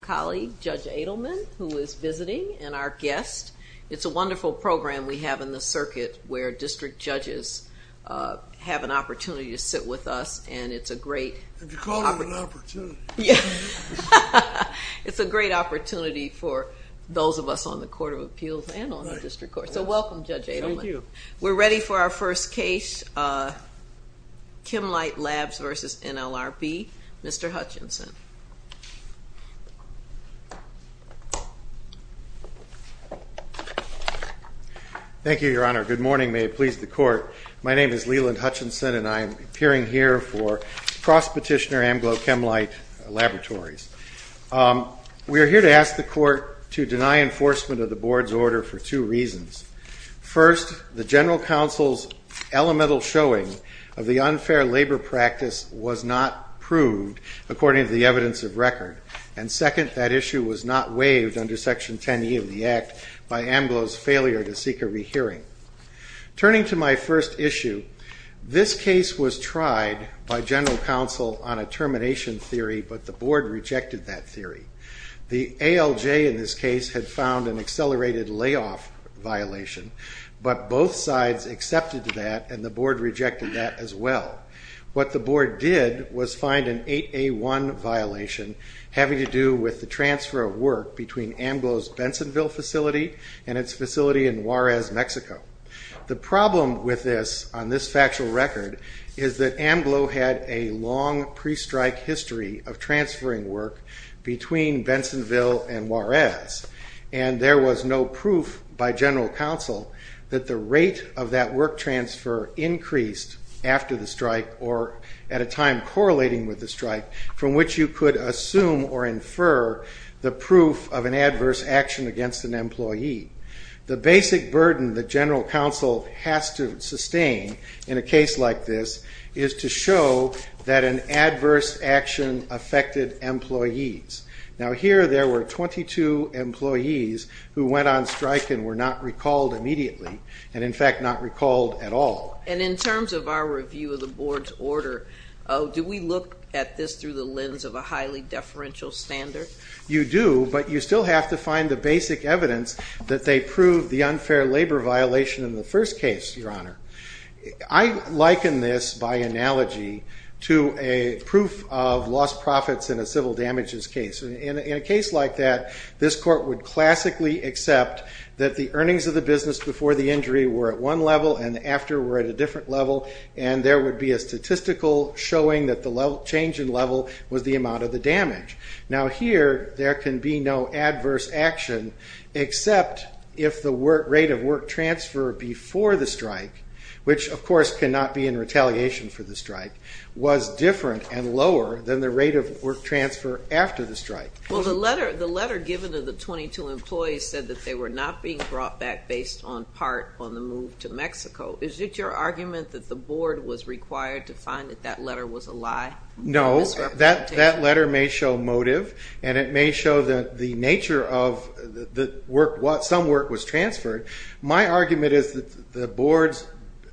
colleague, Judge Adelman, who is visiting, and our guest. It's a wonderful program we have in the circuit where district judges have an opportunity to sit with us, and it's a great opportunity for those of us on the Court of Appeals and on the District Court. So welcome, Judge Adelman. Thank you. We're ready for our first case, Kemlite Labs v. NLRB. Mr. Hutchinson. Thank you, Your Honor. Good morning. May it please the Court. My name is Leland Hutchinson, and I am appearing here for cross-petitioner Amglo Kemlite Laboratories. We are here to ask the Court to deny enforcement of the Board's order for two reasons. First, the General Counsel's elemental showing of the unfair labor practice was not proved according to the evidence of record, and second, that issue was not waived under Section 10e of the Act by Amglo's failure to seek a rehearing. Turning to my first issue, this case was tried by General Counsel on a termination theory, but the Board rejected that theory. The ALJ in this case had found an accelerated layoff violation, but both sides accepted that, and the Board rejected that as well. What the Board did was find an 8A1 violation having to do with the transfer of work between Amglo's Bensonville facility and its facility in Juarez, Mexico. The problem with this, on this factual record, is that Amglo had a long pre-strike history of transferring work between Bensonville and Juarez, and there was no proof by General Counsel that the rate of that work transfer increased after the strike or at a time correlating with the strike from which you could assume or infer the proof of an adverse action against an employee. The basic burden the General Counsel has to sustain in a case like this is to show that an adverse action affected employees. Now here there were 22 employees who went on strike and were not recalled immediately, and in fact not recalled at all. And in terms of our review of the Board's order, do we look at this through the lens of a highly deferential standard? You do, but you still have to find the basic evidence that they proved the unfair labor violation in the first case, Your Honor. I liken this by analogy to a proof of lost profits in a civil damages case. In a case like that, this Court would classically accept that the earnings of the business before the injury were at one level and after were at a different level, and there would be a statistical showing that the change in level was the amount of the damage. Now here, there can be no adverse action except if the rate of work transfer before the strike, which of course cannot be in retaliation for the strike, was different and lower than the rate of work transfer after the strike. Well, the letter given to the 22 employees said that they were not being brought back based on part on the move to Mexico. Is it your argument that the Board was required to find that that letter was a lie? No, that letter may show motive, and it may show that the nature of some work was transferred. My argument is that the Board's,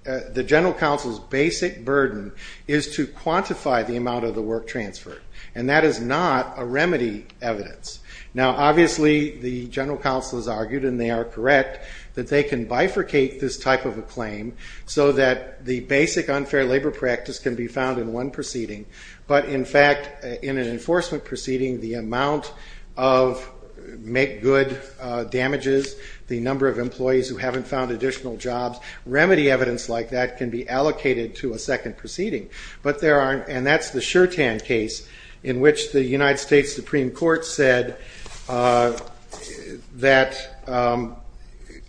the General Counsel's basic burden is to quantify the amount of the work transferred, and that is not a remedy evidence. Now obviously, the General Counsel has argued, and they are correct, that they can bifurcate this type of a claim so that the basic unfair labor practice can be found in one proceeding, but in fact, in an enforcement proceeding, the amount of make-good damages, the number of employees who haven't found additional jobs, remedy evidence like that can be allocated to a second proceeding, but there aren't, and that's the Shertan case in which the United States Supreme Court said that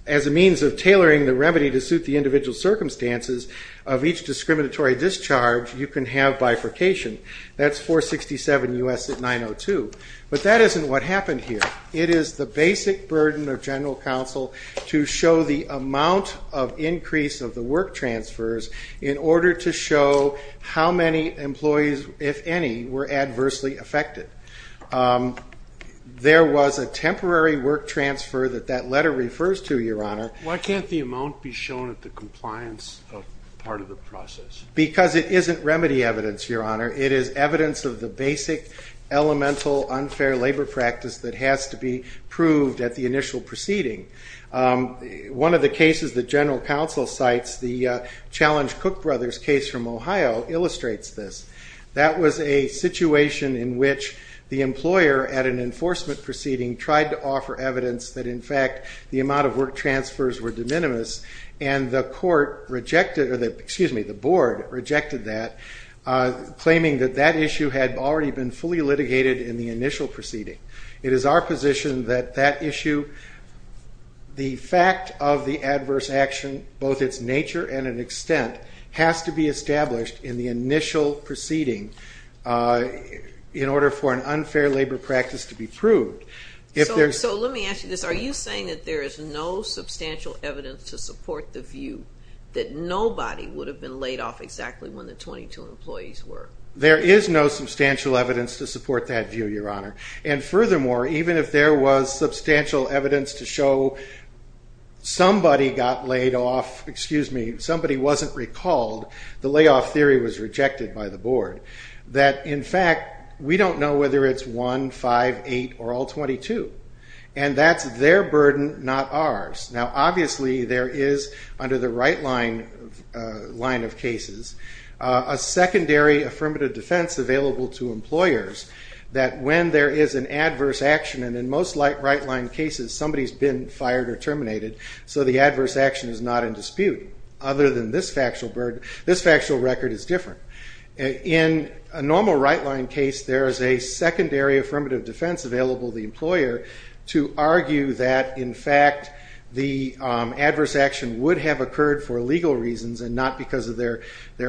as a means of tailoring the remedy to suit the individual circumstances of each discriminatory discharge, you can have bifurcation. That's 467 U.S. 902, but that isn't what happened here. It is the basic burden of General Counsel to show the amount of increase of the work transfers in order to show how many employees, if any, were adversely affected. There was a temporary work transfer that that letter refers to, Your Honor. Why can't the amount be shown at the compliance part of the process? Because it isn't remedy evidence, Your Honor. It is evidence of the basic elemental unfair labor practice that has to be proved at the initial proceeding. One of the cases that was a situation in which the employer at an enforcement proceeding tried to offer evidence that in fact the amount of work transfers were de minimis, and the board rejected that, claiming that that issue had already been fully litigated in the initial proceeding. It is our position that that issue, the fact of the adverse action, both its nature and extent, has to be established in the initial proceeding in order for an unfair labor practice to be proved. So let me ask you this. Are you saying that there is no substantial evidence to support the view that nobody would have been laid off exactly when the 22 employees were? There is no substantial evidence to support that view, Your Honor. And furthermore, even if there was substantial evidence to show somebody got laid off, excuse me, somebody wasn't recalled, the layoff theory was rejected by the board, that in fact we don't know whether it's one, five, eight, or all 22. And that's their burden, not ours. Now obviously there is, under the right line of cases, a secondary affirmative defense available to employers that when there is an adverse action, and in most right line cases somebody's been fired or terminated, so the adverse action is not in dispute, other than this factual record is different. In a normal right line case, there is a secondary affirmative defense available to the employer to argue that in fact the adverse action would have occurred for legal reasons and not because of their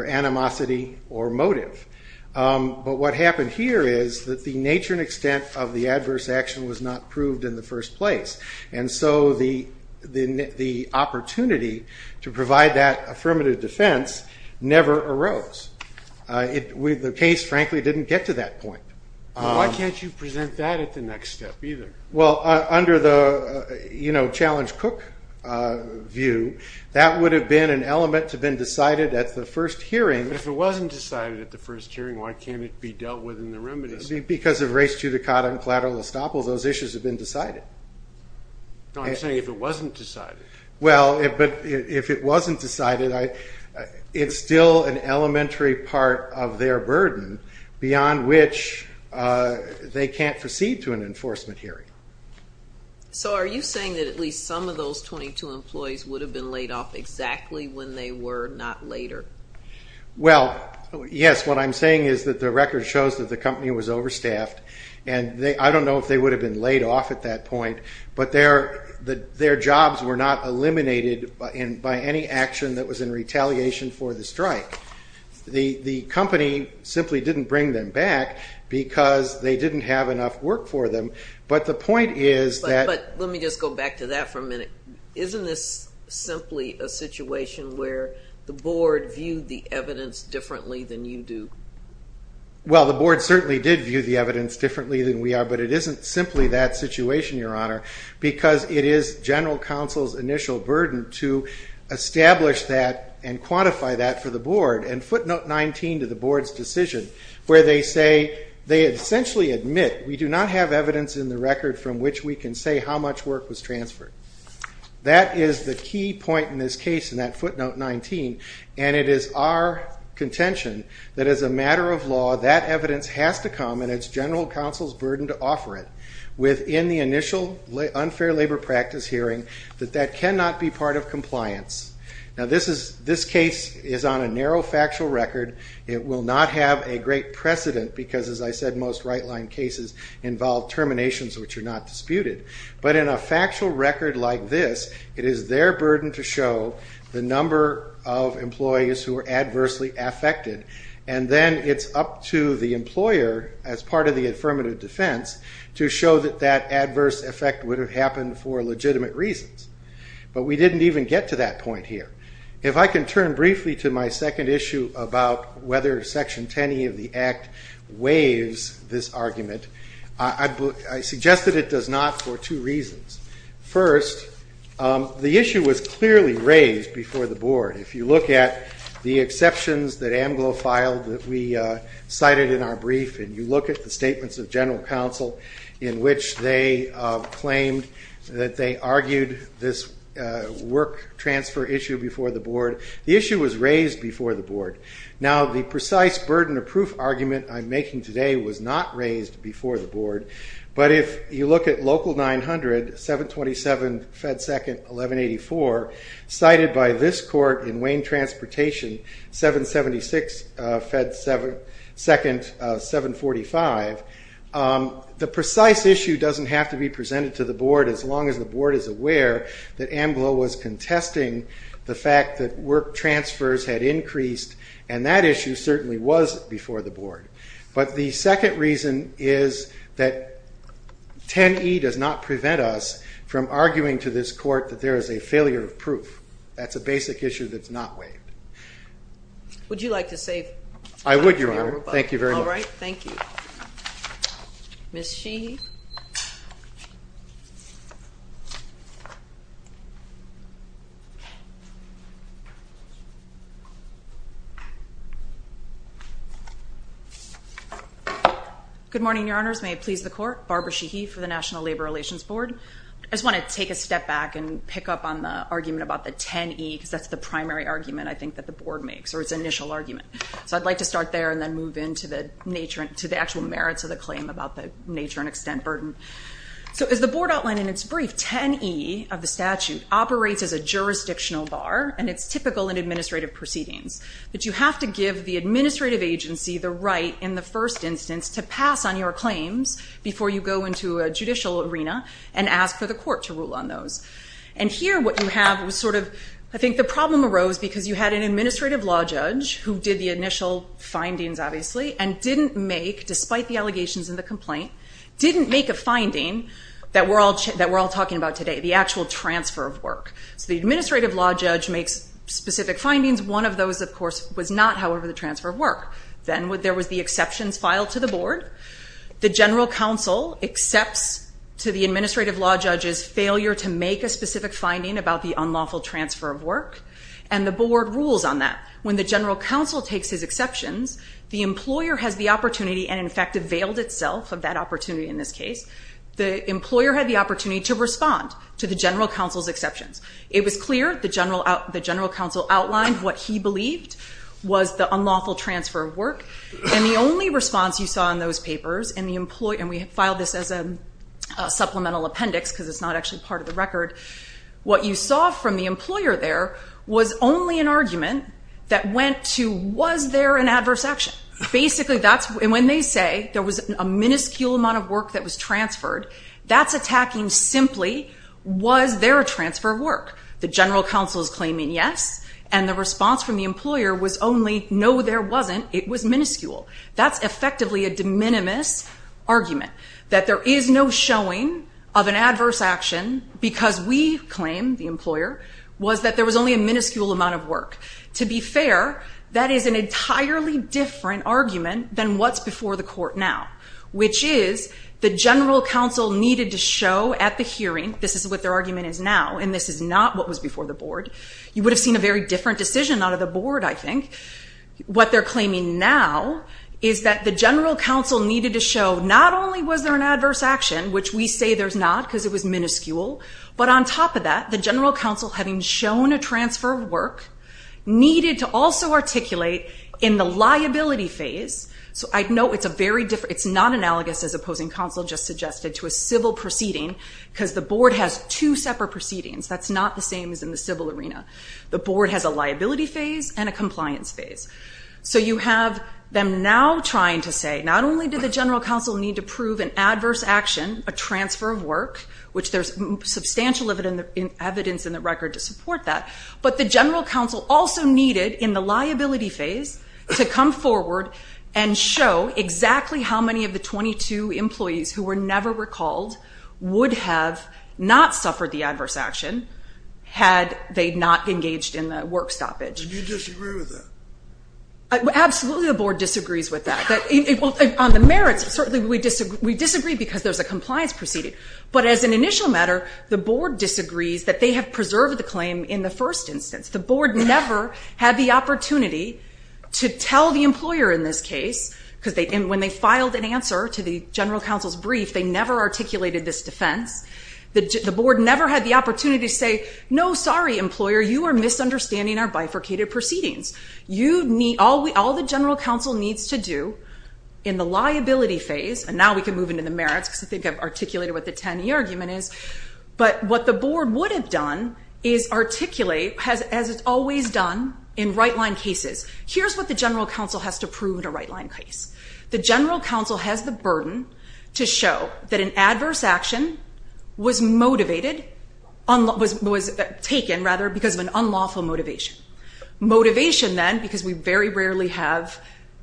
animosity or motive. But what happened here is that the nature and extent of the adverse action was not proved in the first place. And so the opportunity to provide that affirmative defense never arose. The case, frankly, didn't get to that point. Why can't you present that at the next step either? Under the Challenge Cook view, that would have been an element to have been decided at the first hearing. But if it wasn't decided at the first hearing, why can't it be dealt with in the remedies? Because of race judicata and collateral estoppel, those issues have been decided. No, I'm saying if it wasn't decided. Well, but if it wasn't decided, it's still an elementary part of their burden beyond which they can't proceed to an enforcement hearing. So are you saying that at least some of those 22 employees would have been laid off exactly when they were not later? Well, yes. What I'm saying is that the record shows that the company was overstaffed. And I don't know if they would have been laid off at that point, but their jobs were not eliminated by any action that was in retaliation for the strike. The company simply didn't bring them back because they didn't have enough work for them. But the point is that... But let me just go back to that for a minute. Isn't this simply a situation where the Board viewed the evidence differently than you do? Well, the Board certainly did view the evidence differently than we are, but it isn't simply that situation, Your Honor, because it is General Counsel's initial burden to establish that and quantify that for the Board and footnote 19 to the Board's decision where they say they essentially admit we do not have evidence in the record from which we can say how much work was transferred. That is the key point in this case in that footnote 19, and it is our contention that as a matter of law, that evidence has to come and it's General Counsel's burden to offer it within the initial unfair labor practice hearing that that cannot be of compliance. Now this case is on a narrow factual record. It will not have a great precedent because, as I said, most right-line cases involve terminations which are not disputed. But in a factual record like this, it is their burden to show the number of employees who are adversely affected, and then it's up to the employer as part of the affirmative defense to show that that adverse effect would have happened for legitimate reasons. But we didn't even get to that point here. If I can turn briefly to my second issue about whether Section 10e of the Act waives this argument, I suggest that it does not for two reasons. First, the issue was clearly raised before the Board. If you look at the exceptions that AMGLO filed that we cited in our brief and you look at the statements of General Counsel in which they claimed that they argued this work transfer issue before the Board, the issue was raised before the Board. Now the precise burden of proof argument I'm making today was not raised before the Board, but if you look at Local 900, 727 Fed 2nd, 1184, cited by this court in Wayne Transportation, 776 Fed 2nd, 745, the issue was raised before the Board. The precise issue doesn't have to be presented to the Board as long as the Board is aware that AMGLO was contesting the fact that work transfers had increased, and that issue certainly was before the Board. But the second reason is that 10e does not prevent us from arguing to this court that there is a failure of proof. That's a basic issue that's not waived. Would you like to save time for the overbudget? I would, Your Honor. Thank you very much. All right. Thank you. Ms. Sheehy? Good morning, Your Honors. May it please the Court. Barbara Sheehy for the National Labor Relations Board. I just want to take a step back and pick up on the argument about the 10e because that's the primary argument I think that the Board makes, or its initial to the actual merits of the claim about the nature and extent burden. So as the Board outlined in its brief, 10e of the statute operates as a jurisdictional bar, and it's typical in administrative proceedings, that you have to give the administrative agency the right in the first instance to pass on your claims before you go into a judicial arena and ask for the court to rule on those. And here what you have was sort of, I think the problem arose because you had an administrative law judge who did the initial findings, obviously, and didn't make, despite the allegations in the complaint, didn't make a finding that we're all talking about today, the actual transfer of work. So the administrative law judge makes specific findings. One of those, of course, was not, however, the transfer of work. Then there was the exceptions filed to the Board. The general counsel accepts to the administrative law judge's failure to make a specific finding about the unlawful transfer of work, and the Board rules on that. When the general counsel takes his exceptions, the employer has the opportunity, and in fact availed itself of that opportunity in this case, the employer had the opportunity to respond to the general counsel's exceptions. It was clear the general counsel outlined what he believed was the unlawful transfer of work, and the only response you saw in those papers, and we filed this as a supplemental appendix because it's not actually part of the record, what you saw from the employer there was only an argument that went to, was there an adverse action? Basically, when they say there was a minuscule amount of work that was transferred, that's attacking simply, was there a transfer of work? The general counsel is claiming yes, and the response from the employer was only, no, there wasn't. It was minuscule. That's effectively a de minimis argument, that there is no showing of an adverse action because we claim, the employer, was that there was only a minuscule amount of work. To be fair, that is an entirely different argument than what's before the court now, which is the general counsel needed to show at the hearing, this is what their argument is now, and this is not what was before the Board. You would have seen a very different decision out of the Board, I think. What they're claiming now is that the general counsel needed to show not only was there an adverse action, which we say there's not because it was minuscule, but on top of that, the general counsel having shown a transfer of work needed to also articulate in the liability phase, it's not analogous as opposing counsel just suggested to a civil proceeding because the Board has two separate proceedings, that's not the same as in the civil arena. The Board has a liability phase and a compliance phase. You have them now trying to say, not only did the general counsel need to prove an adverse action, a transfer of work, which there's substantial evidence in the record to support that, but the general counsel also needed in the liability phase to come forward and show exactly how many of the 22 employees who were never recalled would have not suffered the adverse action had they not engaged in the work stoppage. Do you disagree with that? Absolutely, the Board disagrees with that. On the merits, certainly we disagree because there's a compliance proceeding, but as an initial matter, the Board disagrees that they have preserved the claim in the first instance. The Board never had the opportunity to tell the employer in this case, because when they filed an answer to the general counsel's brief, they never articulated this defense. The Board never had the opportunity to say, no, sorry, employer, you are misunderstanding our bifurcated proceedings. You need, all the general counsel needs to do in the liability phase, and now we can move into the merits because I think I've articulated what the 10-year argument is, but what the Board would have done is articulate, as it's always done in right-line cases, here's what the general counsel has to prove in a right-line case. The general counsel has the burden to show that an adverse we very rarely have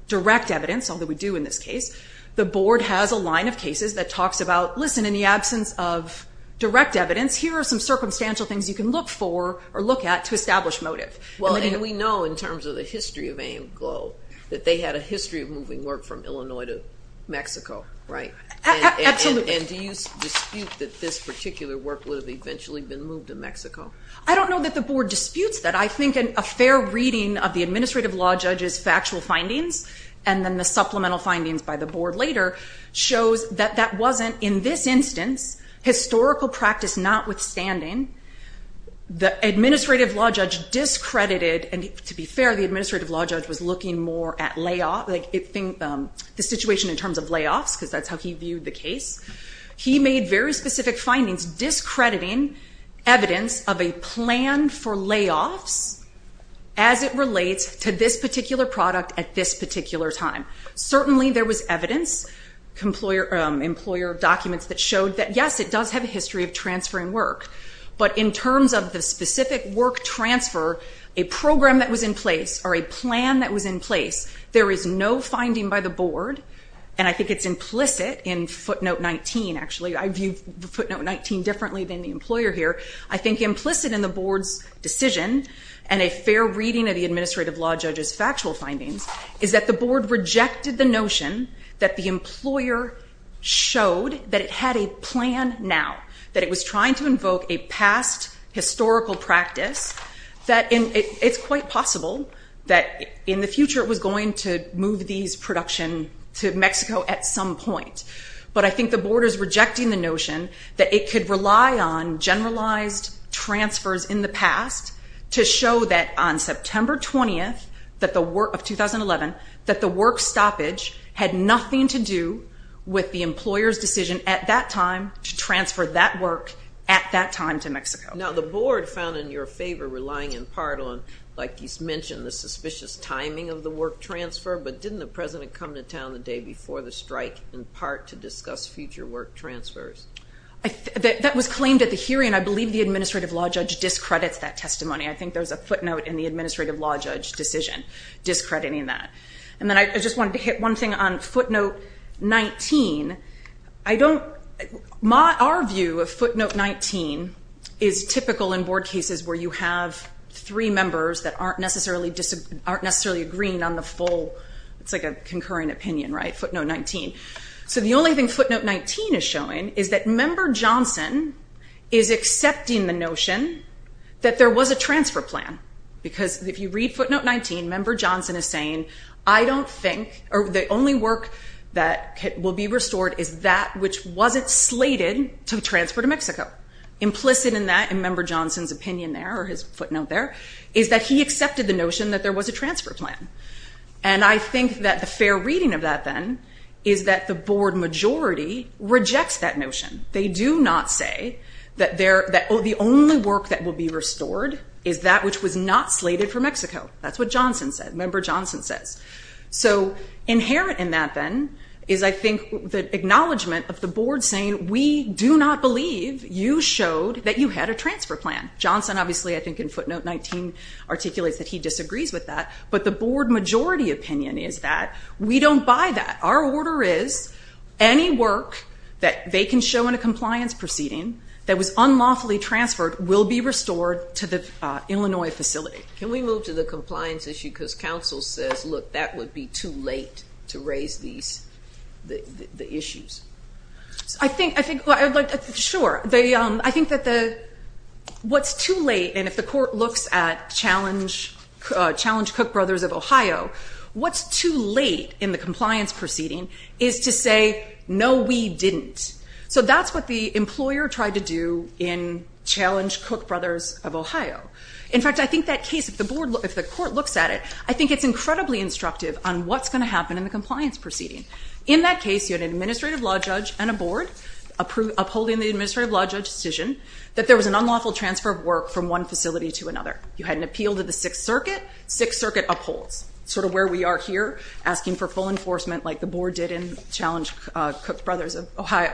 direct evidence, although we do in this case. The Board has a line of cases that talks about, listen, in the absence of direct evidence, here are some circumstantial things you can look for or look at to establish motive. Well, and we know in terms of the history of AIMGLO that they had a history of moving work from Illinois to Mexico, right? Absolutely. And do you dispute that this particular work would have eventually been moved to Mexico? I don't know that the Board disputes that. I think a fair reading of the Administrative Law Judge's factual findings and then the supplemental findings by the Board later shows that that wasn't, in this instance, historical practice notwithstanding. The Administrative Law Judge discredited, and to be fair, the Administrative Law Judge was looking more at the situation in terms of layoffs because that's how he viewed the case. He made very specific findings discrediting evidence of a plan for layoffs as it relates to this particular product at this particular time. Certainly there was evidence, employer documents that showed that, yes, it does have a history of transferring work, but in terms of the specific work transfer, a program that was in place or a plan that was in place, there is no finding by the Board, and I think it's implicit in footnote 19, actually. I view footnote 19 differently than the employer here. I think implicit in the Board's decision and a fair reading of the Administrative Law Judge's factual findings is that the Board rejected the notion that the employer showed that it had a plan now, that it was trying to invoke a past historical practice, that it's quite possible that in the future it was going to move these to Mexico at some point, but I think the Board is rejecting the notion that it could rely on generalized transfers in the past to show that on September 20th of 2011 that the work stoppage had nothing to do with the employer's decision at that time to transfer that work at that time to Mexico. Now the Board found in your favor relying in part on, like you mentioned, the suspicious to come to town the day before the strike in part to discuss future work transfers. That was claimed at the hearing. I believe the Administrative Law Judge discredits that testimony. I think there's a footnote in the Administrative Law Judge decision discrediting that. And then I just wanted to hit one thing on footnote 19. Our view of footnote 19 is typical in Board cases where you have three members that aren't necessarily agreeing on the full, it's like a concurring opinion, right? Footnote 19. So the only thing footnote 19 is showing is that Member Johnson is accepting the notion that there was a transfer plan, because if you read footnote 19, Member Johnson is saying, I don't think, or the only work that will be restored is that which wasn't slated to transfer to Mexico. Implicit in that in Member Johnson's opinion there, or his footnote there, is that he accepted the notion that there was a transfer plan. And I think that the fair reading of that then is that the Board majority rejects that notion. They do not say that the only work that will be restored is that which was not slated for Mexico. That's what Johnson said, Member Johnson says. So inherent in that then is, I think, the acknowledgement of the Board saying, we do not believe you showed that you had a transfer plan. Johnson obviously, I think, in footnote 19 articulates that he disagrees with that, but the Board majority opinion is that we don't buy that. Our order is any work that they can show in a compliance proceeding that was unlawfully transferred will be restored to the Illinois facility. Can we move to the compliance issue, because counsel says, look, that would be too late to raise these, the issues. I think, I think, I'd like, sure, they, I think that the, what's too late, and if the Court looks at Challenge, Challenge Cook Brothers of Ohio, what's too late in the compliance proceeding is to say, no, we didn't. So that's what the employer tried to do in Challenge Cook Brothers of Ohio. In fact, I think that case, if the Board, if the Court looks at it, I think it's incredibly instructive on what's going to happen in the compliance proceeding. In that case, you had an administrative law judge and a Board upholding the administrative law judge decision that there was an unlawful transfer of work from one facility to another. You had an appeal to the Sixth Circuit. Sixth Circuit upholds, sort of where we are here, asking for full enforcement like the Board did in Challenge Cook Brothers of Ohio.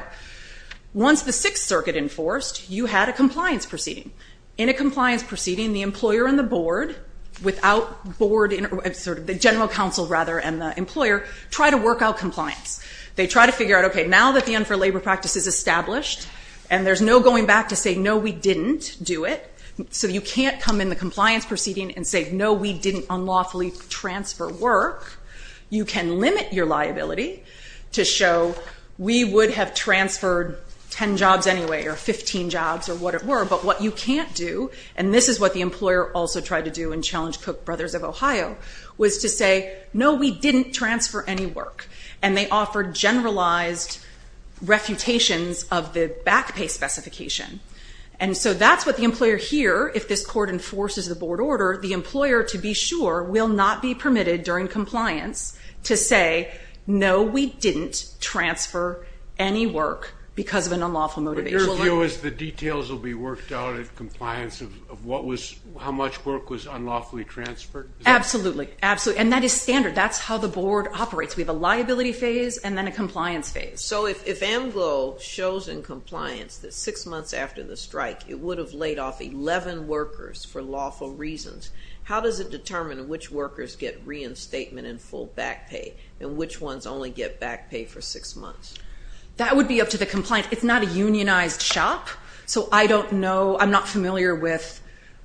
Once the Sixth Circuit enforced, you had a compliance proceeding. In a compliance proceeding, the employer and the Board, without Board, sort of the general counsel, rather, and the employer try to work out compliance. They try to figure out, okay, now that the end for labor practice is established and there's no going back to say, no, we didn't do it, so you can't come in the compliance proceeding and say, no, we didn't unlawfully transfer work, you can limit your liability to show we would have transferred 10 jobs anyway or 15 jobs or what it were, but what you can't do, and this is what the employer also tried to do in Challenge Cook Brothers of Ohio, was to say, no, we didn't transfer any work, and they offered generalized refutations of the back pay specification, and so that's what the employer here, if this court enforces the Board order, the employer, to be sure, will not be permitted during compliance to say, no, we didn't transfer any work because of an unlawful motivation. But your view is the details will be worked out at compliance of how much work was unlawfully transferred? Absolutely, absolutely, and that is standard. That's how the Board operates. We have a liability phase and then a compliance phase. So if AMGLO shows in compliance that six months after the strike, it would have laid off 11 workers for lawful reasons, how does it determine which workers get reinstatement and full back pay and which ones only get back pay for six months? That would be up to the compliance. It's not a unionized shop, so I don't know, I'm not familiar with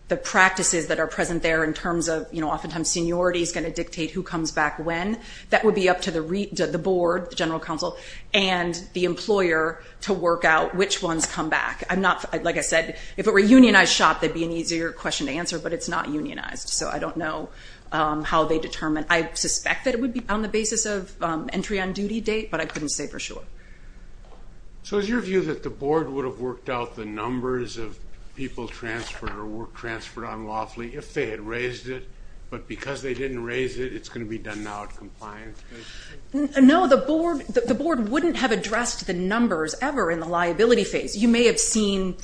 the practices that are present there in terms of oftentimes seniority is going to dictate who comes back when. That would be up to the Board, the General Counsel, and the employer to work out which ones come back. I'm not, like I said, if it were a unionized shop, that'd be an easier question to answer, but it's not unionized, so I don't know how they determine. I suspect that it would be on the basis of entry on duty date, but I couldn't say for sure. So is your view that the Board would have worked out the numbers of people transferred or work transferred on lawfully if they had raised it, but because they didn't raise it, it's going to be done now at compliance? No, the Board wouldn't have addressed the numbers ever in the liability phase. You may have seen,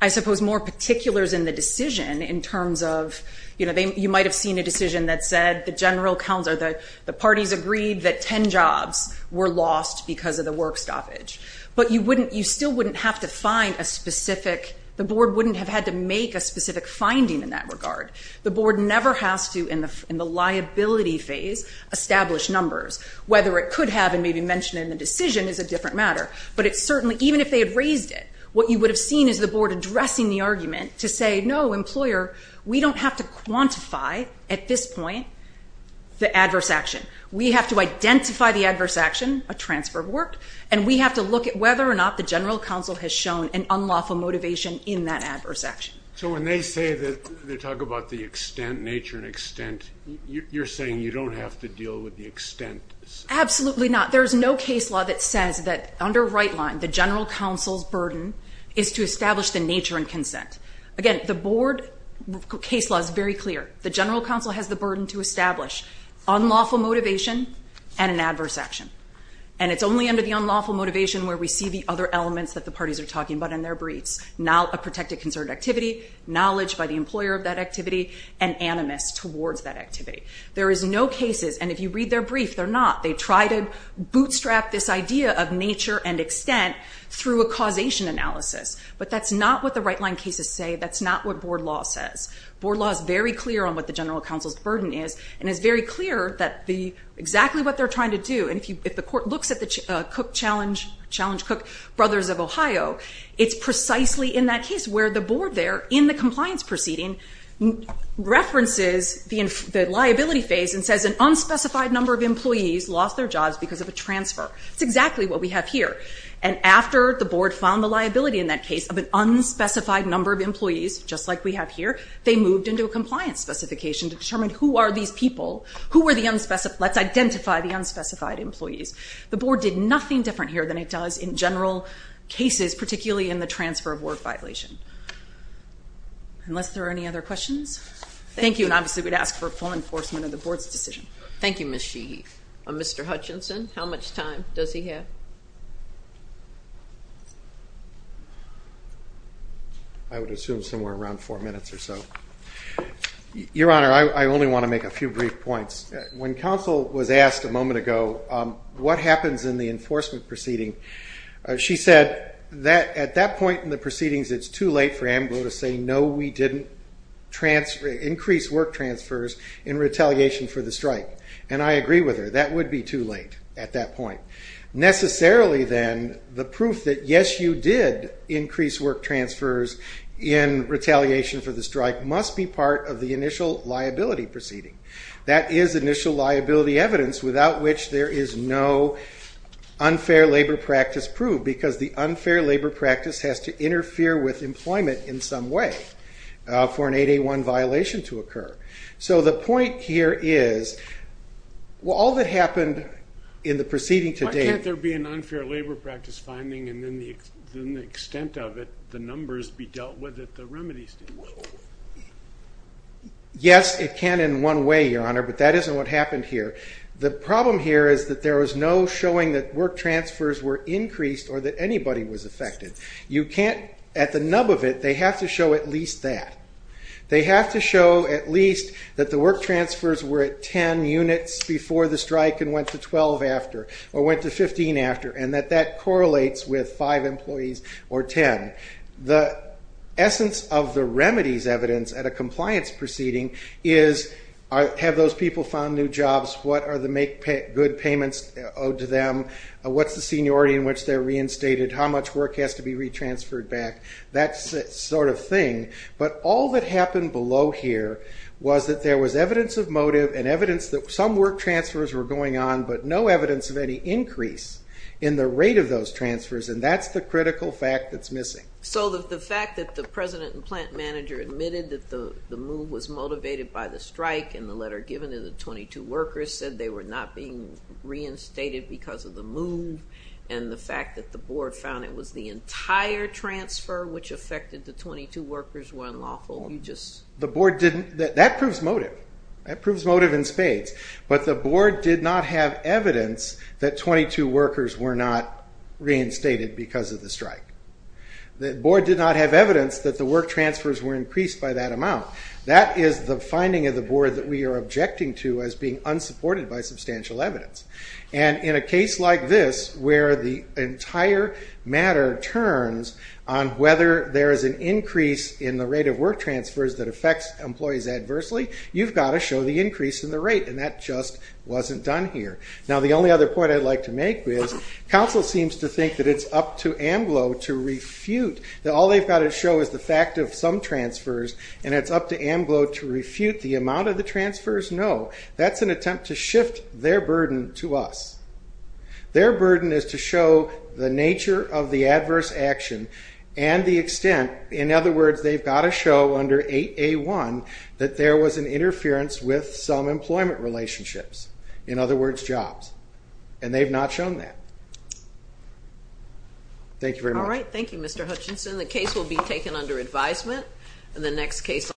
I suppose, more particulars in the decision in terms of, you know, you might have seen a decision that said the General Counsel, the parties agreed that 10 jobs were lost because of the work stoppage, but you wouldn't, you still wouldn't have to find a specific, the Board wouldn't have had to make a specific finding in that regard. The Board never has to, in the liability phase, establish numbers. Whether it could have and maybe mentioned in the decision is a different matter, but it certainly, even if they had raised it, what you would have seen is the Board addressing the argument to say, no, employer, we don't have to quantify, at this point, the adverse action. We have to identify the adverse action, a transfer of work, and we have to look at whether or not the General Counsel has shown an unlawful motivation in that adverse action. So when they say that, they talk about the extent, nature and extent, you're saying you don't have to deal with the extent? Absolutely not. There's no case law that says that under right line, the General Counsel's burden is to establish the case law is very clear. The General Counsel has the burden to establish unlawful motivation and an adverse action. And it's only under the unlawful motivation where we see the other elements that the parties are talking about in their briefs. Now, a protected concerted activity, knowledge by the employer of that activity, and animus towards that activity. There is no cases, and if you read their brief, they're not. They try to bootstrap this idea of nature and extent through a causation analysis, but that's not what the right line cases say. That's not what board law says. Board law is very clear on what the General Counsel's burden is, and it's very clear that exactly what they're trying to do, and if the court looks at the Cook Challenge, Challenge Cook Brothers of Ohio, it's precisely in that case where the board there, in the compliance proceeding, references the liability phase and says an unspecified number of employees lost their jobs because of a transfer. It's exactly what we have here. And after the board found the liability in that case of an unspecified number of employees, just like we have here, they moved into a compliance specification to determine who are these people, who were the unspecified, let's identify the unspecified employees. The board did nothing different here than it does in general cases, particularly in the transfer of work violation. Unless there are any other questions? Thank you, and obviously we'd ask for full enforcement of the board's decision. Thank you, Ms. Sheehy. Mr. Hutchinson, how much time does he have? I would assume somewhere around four minutes or so. Your Honor, I only want to make a few brief points. When counsel was asked a moment ago what happens in the enforcement proceeding, she said that at that point in the proceedings it's too late for AMBLO to say no, we didn't increase work transfers in retaliation for the strike, and I agree with her. That would be too late at that point. Necessarily, then, the proof that yes, you did increase work transfers in retaliation for the strike must be part of the initial liability proceeding. That is initial liability evidence, without which there is no unfair labor practice proved, because the unfair labor practice has to interfere with employment in some way for an 8A1 violation to occur. So the point here is, well, all that happened in the proceeding to date... Why can't there be an unfair labor practice finding and then the extent of it, the numbers, be dealt with at the remedy stage? Yes, it can in one way, Your Honor, but that isn't what happened here. The problem here is that there was no showing that work transfers were increased or that anybody was affected. You can't, at the nub of it, they have to show at least that. They have to show at least that the work transfers were at 10 units before the strike and went to 12 after, or went to 15 after, and that that correlates with 5 employees or 10. The essence of the remedy's evidence at a compliance proceeding is, have those people found new jobs? What are the good payments owed to them? What's the seniority in which they're reinstated? How much work has to be retransferred back? That sort of thing, but all that happened below here was that there was evidence of motive and evidence that some work transfers were going on, but no evidence of any increase in the rate of those transfers, and that's the critical fact that's missing. So the fact that the president and plant manager admitted that the move was motivated by the strike, and the letter given to the 22 workers said they were not being reinstated because of the move, and the fact that the board found it was the entire transfer which affected the 22 workers were unlawful, you just... The board didn't, that proves motive, that proves motive in spades, but the board did not have evidence that 22 workers were not reinstated because of the strike. The board did not have evidence that the work transfers were increased by that amount. That is the finding of the board that we are objecting to as being unsupported by substantial evidence. And in a case like this, where the entire matter turns on whether there is an increase in the rate of work transfers that affects employees adversely, you've got to show the increase in the rate, and that just wasn't done here. Now the only other point I'd like to make is, council seems to think that it's up to AMBLO to refute that all they've got to show is the fact of some transfers, and it's up to AMBLO to refute the amount of the transfers. No, that's an attempt to shift their burden to us. Their burden is to show the nature of the adverse action and the extent, in other words, they've got to show under 8A1, that there was an interference with some employment relationships, in other words, jobs, and they've not shown that. Thank you very much. All right, thank you Mr. Hutchinson. The case will be taken under advisement, and the next case...